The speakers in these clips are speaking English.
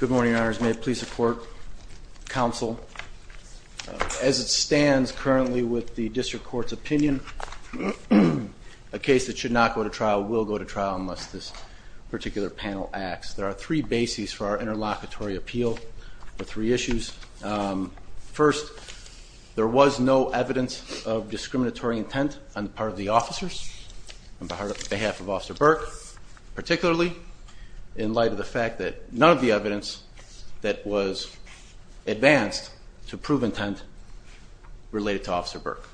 Good morning, Your Honors. May it please the Court, Counsel, as it stands currently with the District Court's opinion, a case that should not go to trial will go to trial unless this particular panel acts. There are three bases for our interlocutory appeal for three issues. First, there was no evidence of discriminatory intent on the part of the officers on behalf of Officer Burke, particularly in light of the fact that none of the evidence that was advanced to prove intent related to Officer Burke.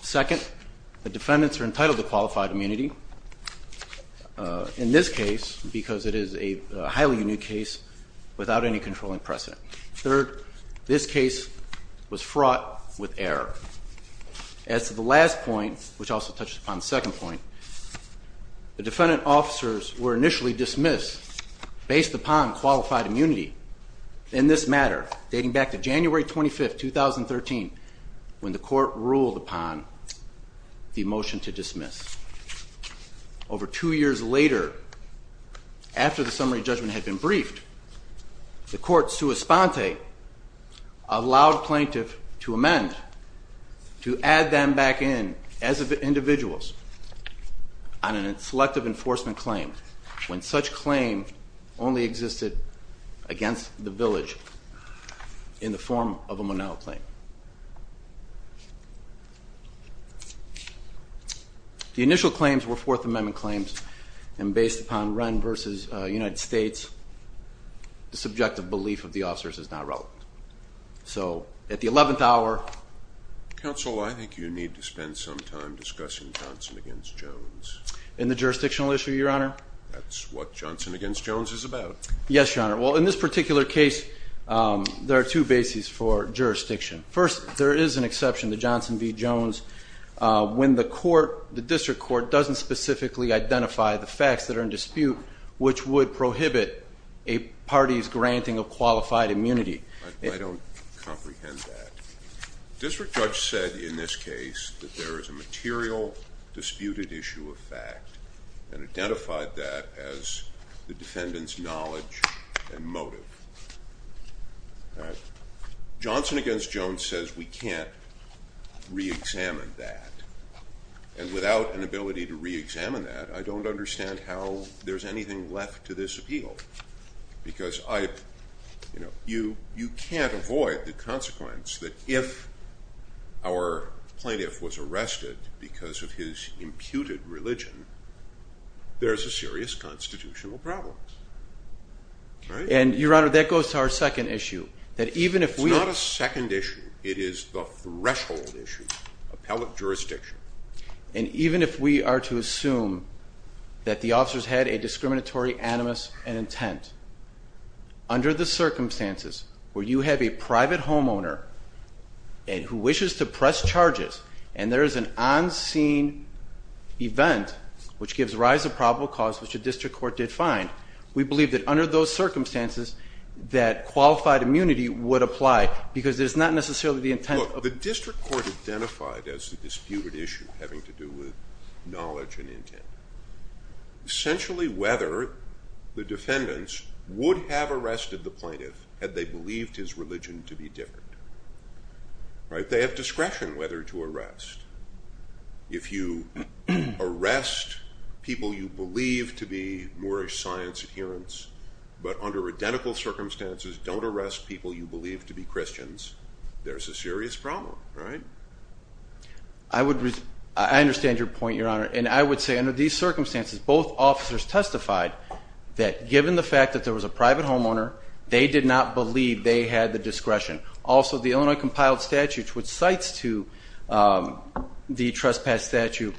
Second, the defendants are entitled to qualified immunity in this case because it is a highly unique case without any controlling precedent. Third, this case was fraught with error. As to the last point, which also touches upon the second point, the defendant officers were initially dismissed based upon qualified immunity in this matter, dating back to January 25, 2013, when the Court ruled upon the motion to dismiss. Over two years later, after the summary judgment had been briefed, the Court, sua sponte, allowed a plaintiff to amend to add them back in as individuals on a selective enforcement claim when such claim only existed against the village in the form of a Monell claim. The initial claims were Fourth Amendment claims, and based upon Wren v. United States, the subjective belief of the officers is not relevant. Counsel, I think you need to spend some time discussing Johnson v. Jones. In the jurisdictional issue, Your Honor? That's what Johnson v. Jones is about. Yes, Your Honor. Well, in this particular case, there are two bases for jurisdiction. First, there is an exception to Johnson v. Jones when the District Court doesn't specifically identify the facts that are in dispute, which would prohibit a party's granting of qualified immunity. I don't comprehend that. The District Judge said in this case that there is a material disputed issue of fact and identified that as the defendant's knowledge and motive. Johnson v. Jones says we can't reexamine that, and without an ability to reexamine that, I don't understand how there's anything left to this appeal. Because you can't avoid the consequence that if our plaintiff was arrested because of his imputed religion, there's a serious constitutional problem. And, Your Honor, that goes to our second issue. It's not a second issue. It is the threshold issue, appellate jurisdiction. And even if we are to assume that the officers had a discriminatory animus and intent, under the circumstances where you have a private homeowner who wishes to press charges, and there is an on-scene event which gives rise to probable cause, which the District Court did find, we believe that under those circumstances that qualified immunity would apply, because there's not necessarily the intent. Look, the District Court identified as the disputed issue having to do with knowledge and intent essentially whether the defendants would have arrested the plaintiff had they believed his religion to be different. They have discretion whether to arrest. If you arrest people you believe to be Moorish science adherents, but under identical circumstances don't arrest people you believe to be Christians, there's a serious problem. I understand your point, Your Honor. And I would say under these circumstances, both officers testified that given the fact that there was a private homeowner, they did not believe they had the discretion. Also, the Illinois Compiled Statutes, which cites to the trespass statute,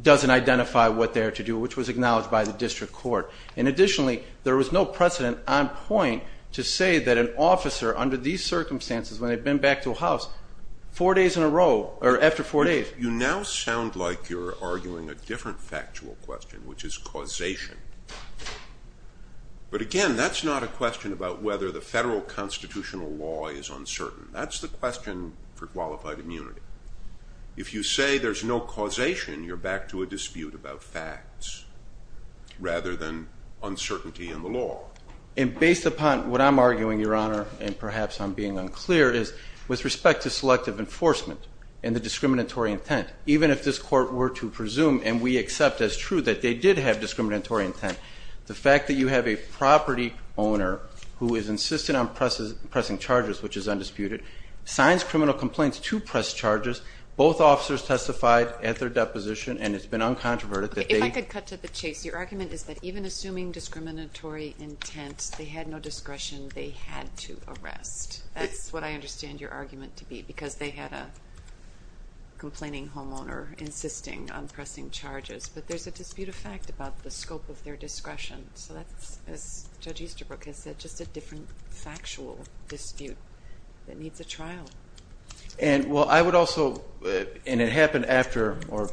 doesn't identify what they're to do, which was acknowledged by the District Court. And additionally, there was no precedent on point to say that an officer under these circumstances, when they've been back to a house, four days in a row, or after four days. You now sound like you're arguing a different factual question, which is causation. But again, that's not a question about whether the federal constitutional law is uncertain. That's the question for qualified immunity. If you say there's no causation, you're back to a dispute about facts rather than uncertainty in the law. And based upon what I'm arguing, Your Honor, and perhaps I'm being unclear, is with respect to selective enforcement and the discriminatory intent, even if this Court were to presume, and we accept as true, that they did have discriminatory intent, the fact that you have a property owner who is insistent on pressing charges, which is undisputed, signs criminal complaints to press charges, both officers testified at their deposition, and it's been uncontroverted that they – If I could cut to the chase. Your argument is that even assuming discriminatory intent, they had no discretion. They had to arrest. That's what I understand your argument to be, because they had a complaining homeowner insisting on pressing charges. But there's a dispute of fact about the scope of their discretion. So that's, as Judge Easterbrook has said, just a different factual dispute that needs a trial. And, well, I would also – and it happened after or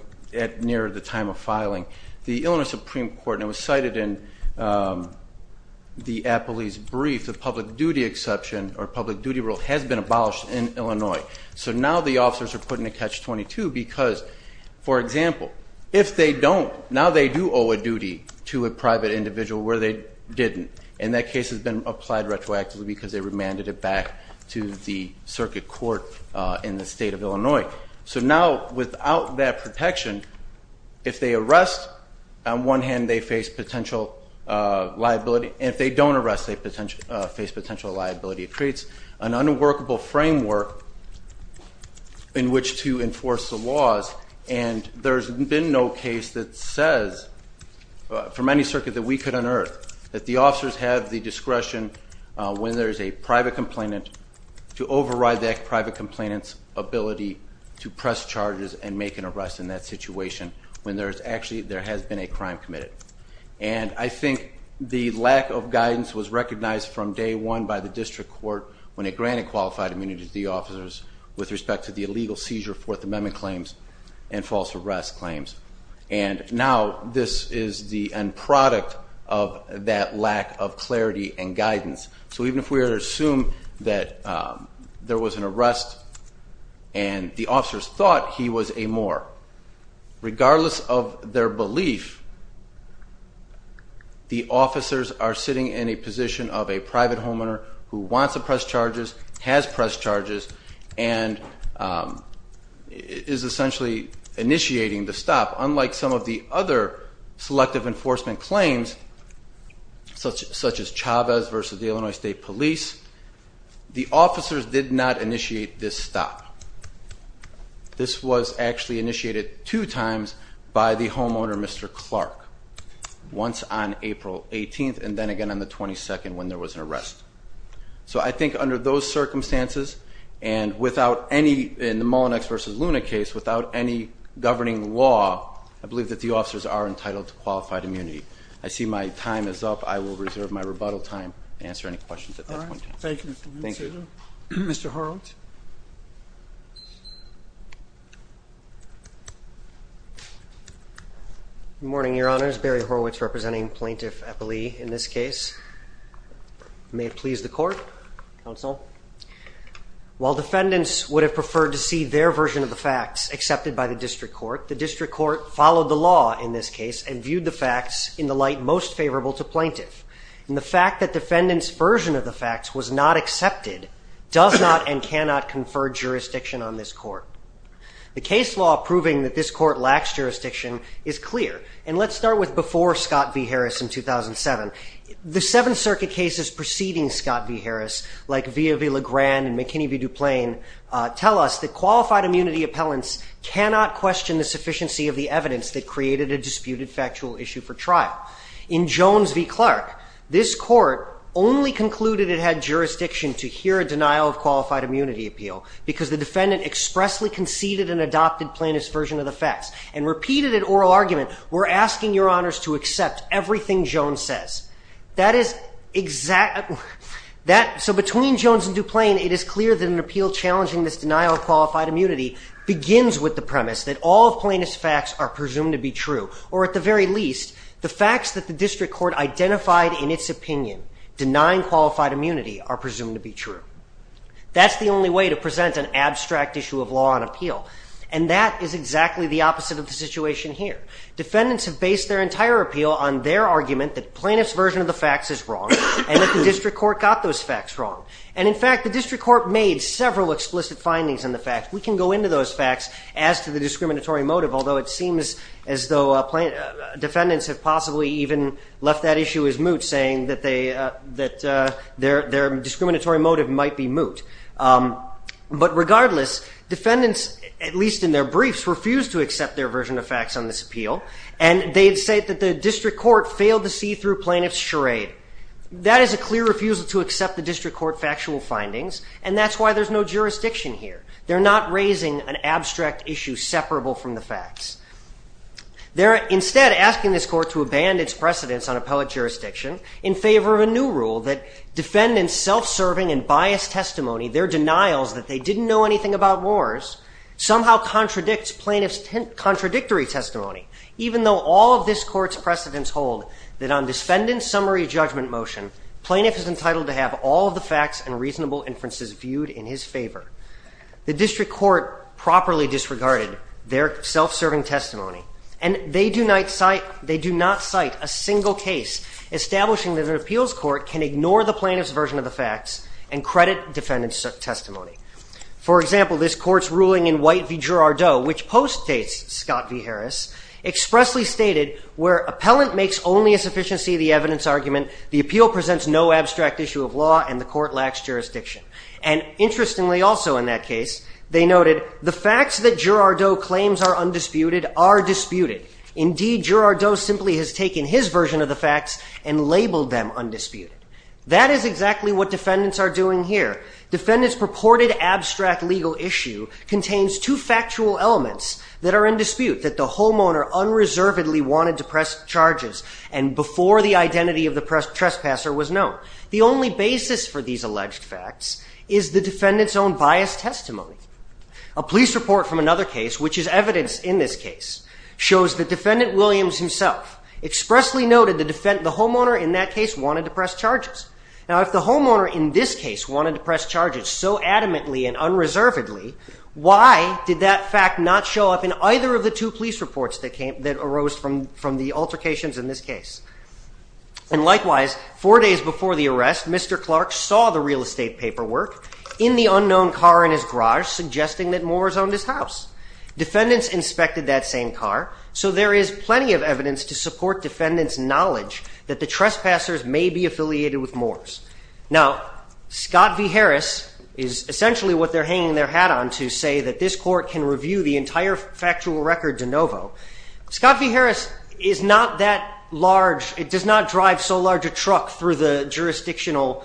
near the time of filing. The Illinois Supreme Court, and it was cited in the Appellee's brief, the public duty exception or public duty rule has been abolished in Illinois. So now the officers are putting a catch-22 because, for example, if they don't, now they do owe a duty to a private individual where they didn't, and that case has been applied retroactively because they remanded it back to the circuit court in the state of Illinois. So now without that protection, if they arrest, on one hand they face potential liability, and if they don't arrest they face potential liability. It creates an unworkable framework in which to enforce the laws, and there's been no case that says from any circuit that we could unearth that the officers have the discretion when there's a private complainant to override that private complainant's ability to press charges and make an arrest in that situation when there's actually – there has been a crime committed. And I think the lack of guidance was recognized from day one by the district court when it granted qualified immunity to the officers with respect to the illegal seizure Fourth Amendment claims and false arrest claims. And now this is the end product of that lack of clarity and guidance. So even if we were to assume that there was an arrest and the officers thought he was a moor, regardless of their belief, the officers are sitting in a position of a private homeowner who wants to press charges, has pressed charges, and is essentially initiating the stop. Unlike some of the other selective enforcement claims, such as Chavez v. Illinois State Police, the officers did not initiate this stop. This was actually initiated two times by the homeowner, Mr. Clark, once on April 18th and then again on the 22nd when there was an arrest. So I think under those circumstances and without any – in the Mullinex v. Luna case, without any governing law, I believe that the officers are entitled to qualified immunity. I see my time is up. I will reserve my rebuttal time and answer any questions at that point in time. Thank you. Thank you. Mr. Horwitz. Good morning, Your Honors. Barry Horwitz representing Plaintiff Eppley in this case. May it please the Court, Counsel. While defendants would have preferred to see their version of the facts accepted by the district court, the district court followed the law in this case and viewed the facts in the light most favorable to plaintiff. And the fact that defendants' version of the facts was not accepted does not and cannot confer jurisdiction on this court. The case law proving that this court lacks jurisdiction is clear. And let's start with before Scott v. Harris in 2007. The Seventh Circuit cases preceding Scott v. Harris, like Villa v. Legrand and McKinney v. DuPlein, tell us that qualified immunity appellants cannot question the sufficiency of the evidence that created a disputed factual issue for trial. In Jones v. Clark, this court only concluded it had jurisdiction to hear a denial of qualified immunity appeal because the defendant expressly conceded an adopted plaintiff's version of the facts and repeated an oral argument, we're asking Your Honors to accept everything Jones says. That is exactly that. So between Jones and DuPlein, it is clear that an appeal challenging this denial of qualified immunity begins with the premise that all plaintiff's facts are presumed to be true or at the very least, the facts that the district court identified in its opinion denying qualified immunity are presumed to be true. That's the only way to present an abstract issue of law on appeal. And that is exactly the opposite of the situation here. Defendants have based their entire appeal on their argument that plaintiff's version of the facts is wrong and that the district court got those facts wrong. And in fact, the district court made several explicit findings on the facts. We can go into those facts as to the discriminatory motive, although it seems as though defendants have possibly even left that issue as moot, saying that their discriminatory motive might be moot. But regardless, defendants, at least in their briefs, refused to accept their version of facts on this appeal, and they'd say that the district court failed to see through plaintiff's charade. That is a clear refusal to accept the district court factual findings, and that's why there's no jurisdiction here. They're not raising an abstract issue separable from the facts. They're instead asking this court to abandon its precedence on appellate jurisdiction in favor of a new rule that defendants' self-serving and biased testimony, their denials that they didn't know anything about wars, somehow contradicts plaintiff's contradictory testimony, even though all of this court's precedents hold that on defendant's summary judgment motion, plaintiff is entitled to have all of the facts and reasonable inferences viewed in his favor. The district court properly disregarded their self-serving testimony, and they do not cite a single case establishing that an appeals court can ignore the plaintiff's version of the facts and credit defendant's testimony. For example, this court's ruling in White v. Girardot, which postdates Scott v. Harris, expressly stated where appellant makes only a sufficiency of the evidence argument, the appeal presents no abstract issue of law, and the court lacks jurisdiction. And interestingly also in that case, they noted the facts that Girardot claims are undisputed are disputed. Indeed, Girardot simply has taken his version of the facts and labeled them undisputed. That is exactly what defendants are doing here. Defendant's purported abstract legal issue contains two factual elements that are in dispute, that the homeowner unreservedly wanted to press charges, and before the identity of the trespasser was known. The only basis for these alleged facts is the defendant's own biased testimony. A police report from another case, which is evidence in this case, shows that defendant Williams himself expressly noted the homeowner in that case wanted to press charges. Now if the homeowner in this case wanted to press charges so adamantly and unreservedly, why did that fact not show up in either of the two police reports that arose from the altercations in this case? And likewise, four days before the arrest, Mr. Clark saw the real estate paperwork in the unknown car in his garage, suggesting that Moores owned his house. Defendants inspected that same car, so there is plenty of evidence to support defendants' knowledge that the trespassers may be affiliated with Moores. Now, Scott v. Harris is essentially what they're hanging their hat on to say that this court can review the entire factual record de novo. Scott v. Harris is not that large, it does not drive so large a truck through the jurisdictional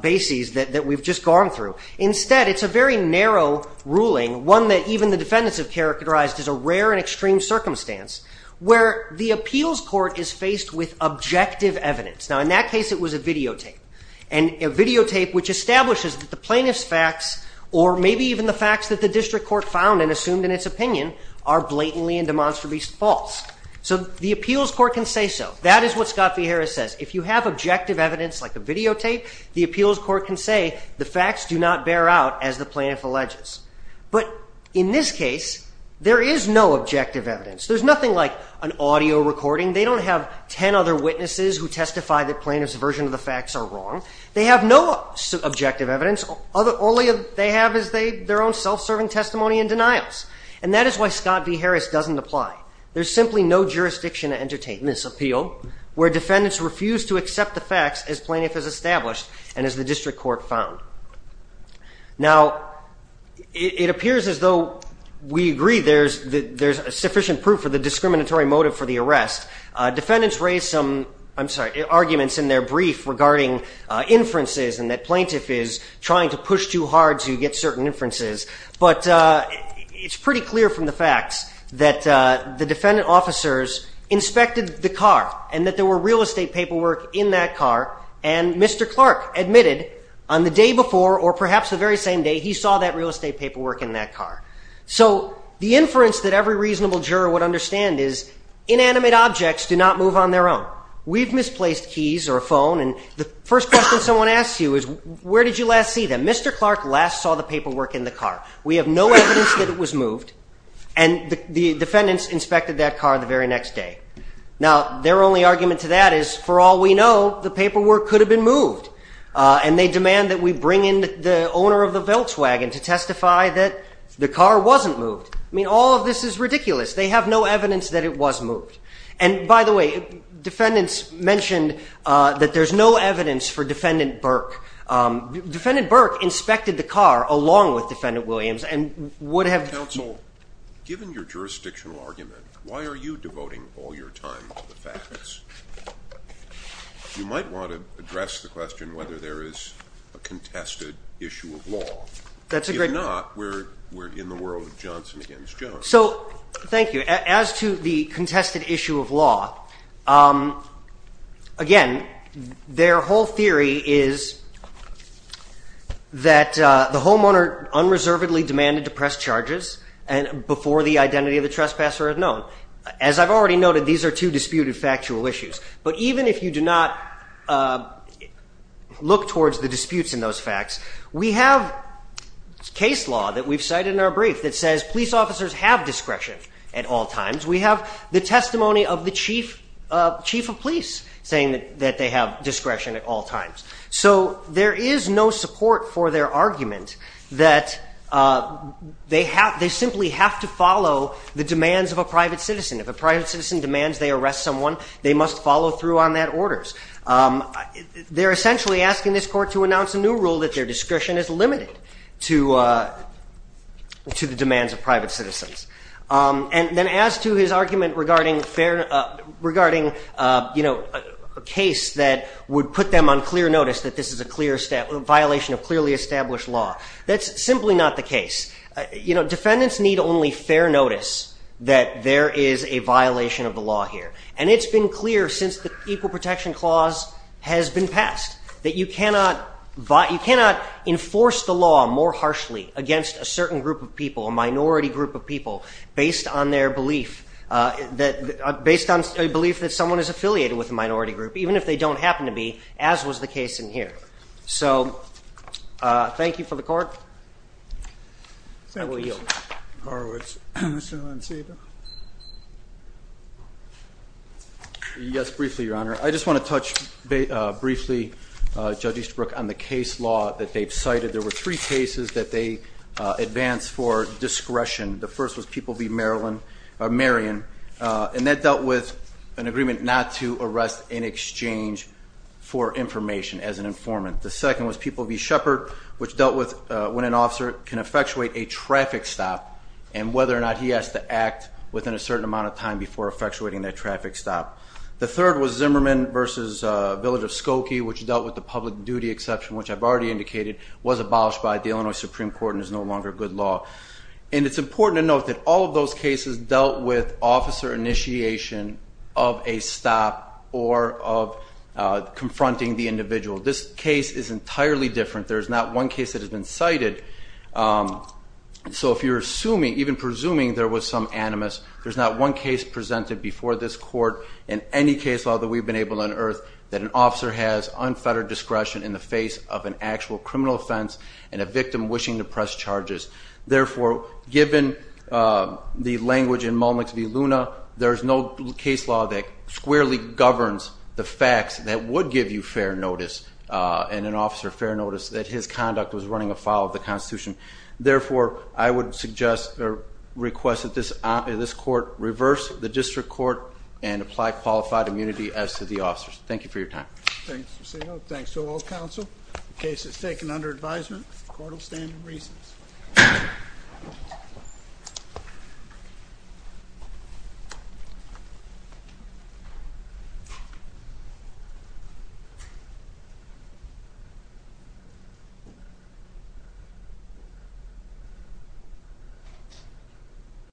bases that we've just gone through. Instead, it's a very narrow ruling, one that even the defendants have characterized as a rare and extreme circumstance, where the appeals court is faced with objective evidence. Now, in that case, it was a videotape, and a videotape which establishes that the plaintiff's facts, or maybe even the facts that the district court found and assumed in its opinion, are blatantly and demonstrably false. So the appeals court can say so. That is what Scott v. Harris says. If you have objective evidence like a videotape, the appeals court can say the facts do not bear out as the plaintiff alleges. But in this case, there is no objective evidence. There's nothing like an audio recording. They don't have ten other witnesses who testify that plaintiff's version of the facts are wrong. They have no objective evidence. All they have is their own self-serving testimony and denials. And that is why Scott v. Harris doesn't apply. There's simply no jurisdiction to entertain this appeal where defendants refuse to accept the facts as plaintiff has established and as the district court found. Now, it appears as though we agree there's sufficient proof for the discriminatory motive for the arrest. Defendants raised some, I'm sorry, arguments in their brief regarding inferences and that plaintiff is trying to push too hard to get certain inferences. But it's pretty clear from the facts that the defendant officers inspected the car and that there were real estate paperwork in that car. And Mr. Clark admitted on the day before or perhaps the very same day he saw that real estate paperwork in that car. So the inference that every reasonable juror would understand is inanimate objects do not move on their own. We've misplaced keys or a phone and the first question someone asks you is where did you last see them? Mr. Clark last saw the paperwork in the car. We have no evidence that it was moved and the defendants inspected that car the very next day. Now, their only argument to that is for all we know the paperwork could have been moved and they demand that we bring in the owner of the Volkswagen to testify that the car wasn't moved. I mean, all of this is ridiculous. They have no evidence that it was moved. And by the way, defendants mentioned that there's no evidence for Defendant Burke. Defendant Burke inspected the car along with Defendant Williams and would have. Counsel, given your jurisdictional argument, why are you devoting all your time to the facts? You might want to address the question whether there is a contested issue of law. If not, we're in the world of Johnson against Jones. So, thank you. As to the contested issue of law, again, their whole theory is that the homeowner unreservedly demanded to press charges before the identity of the trespasser is known. As I've already noted, these are two disputed factual issues. But even if you do not look towards the disputes in those facts, we have case law that we've cited in our brief that says police officers have discretion at all times. We have the testimony of the chief of police saying that they have discretion at all times. So, there is no support for their argument that they simply have to follow the demands of a private citizen. If a private citizen demands they arrest someone, they must follow through on that orders. They're essentially asking this Court to announce a new rule that their discretion is limited to the demands of private citizens. And then as to his argument regarding a case that would put them on clear notice that this is a violation of clearly established law, that's simply not the case. You know, defendants need only fair notice that there is a violation of the law here. And it's been clear since the Equal Protection Clause has been passed that you cannot enforce the law more harshly against a certain group of people, a minority group of people, based on their belief that someone is affiliated with a minority group, even if they don't happen to be, as was the case in here. So, thank you for the Court. I will yield. Thank you, Mr. Horowitz. Mr. Lancedo? Yes, briefly, Your Honor. I just want to touch briefly, Judge Easterbrook, on the case law that they've cited. There were three cases that they advanced for discretion. The first was People v. Marion, and that dealt with an agreement not to arrest in exchange for information as an informant. The second was People v. Shepard, which dealt with when an officer can effectuate a traffic stop and whether or not he has to act within a certain amount of time before effectuating that traffic stop. The third was Zimmerman v. Village of Skokie, which dealt with the public duty exception, which I've already indicated was abolished by the Illinois Supreme Court and is no longer good law. And it's important to note that all of those cases dealt with officer initiation of a stop or of confronting the individual. This case is entirely different. There is not one case that has been cited. So if you're assuming, even presuming, there was some animus, there's not one case presented before this Court in any case law that we've been able to unearth that an officer has unfettered discretion in the face of an actual criminal offense and a victim wishing to press charges. Therefore, given the language in Mullnick v. Luna, there's no case law that squarely governs the facts that would give you fair notice, and an officer fair notice, that his conduct was running afoul of the Constitution. Therefore, I would suggest or request that this Court reverse the district court and apply qualified immunity as to the officers. Thank you for your time. Thanks, Mr. Segal. Thanks to all counsel. The case is taken under advisement. Court will stand in recess. Thank you.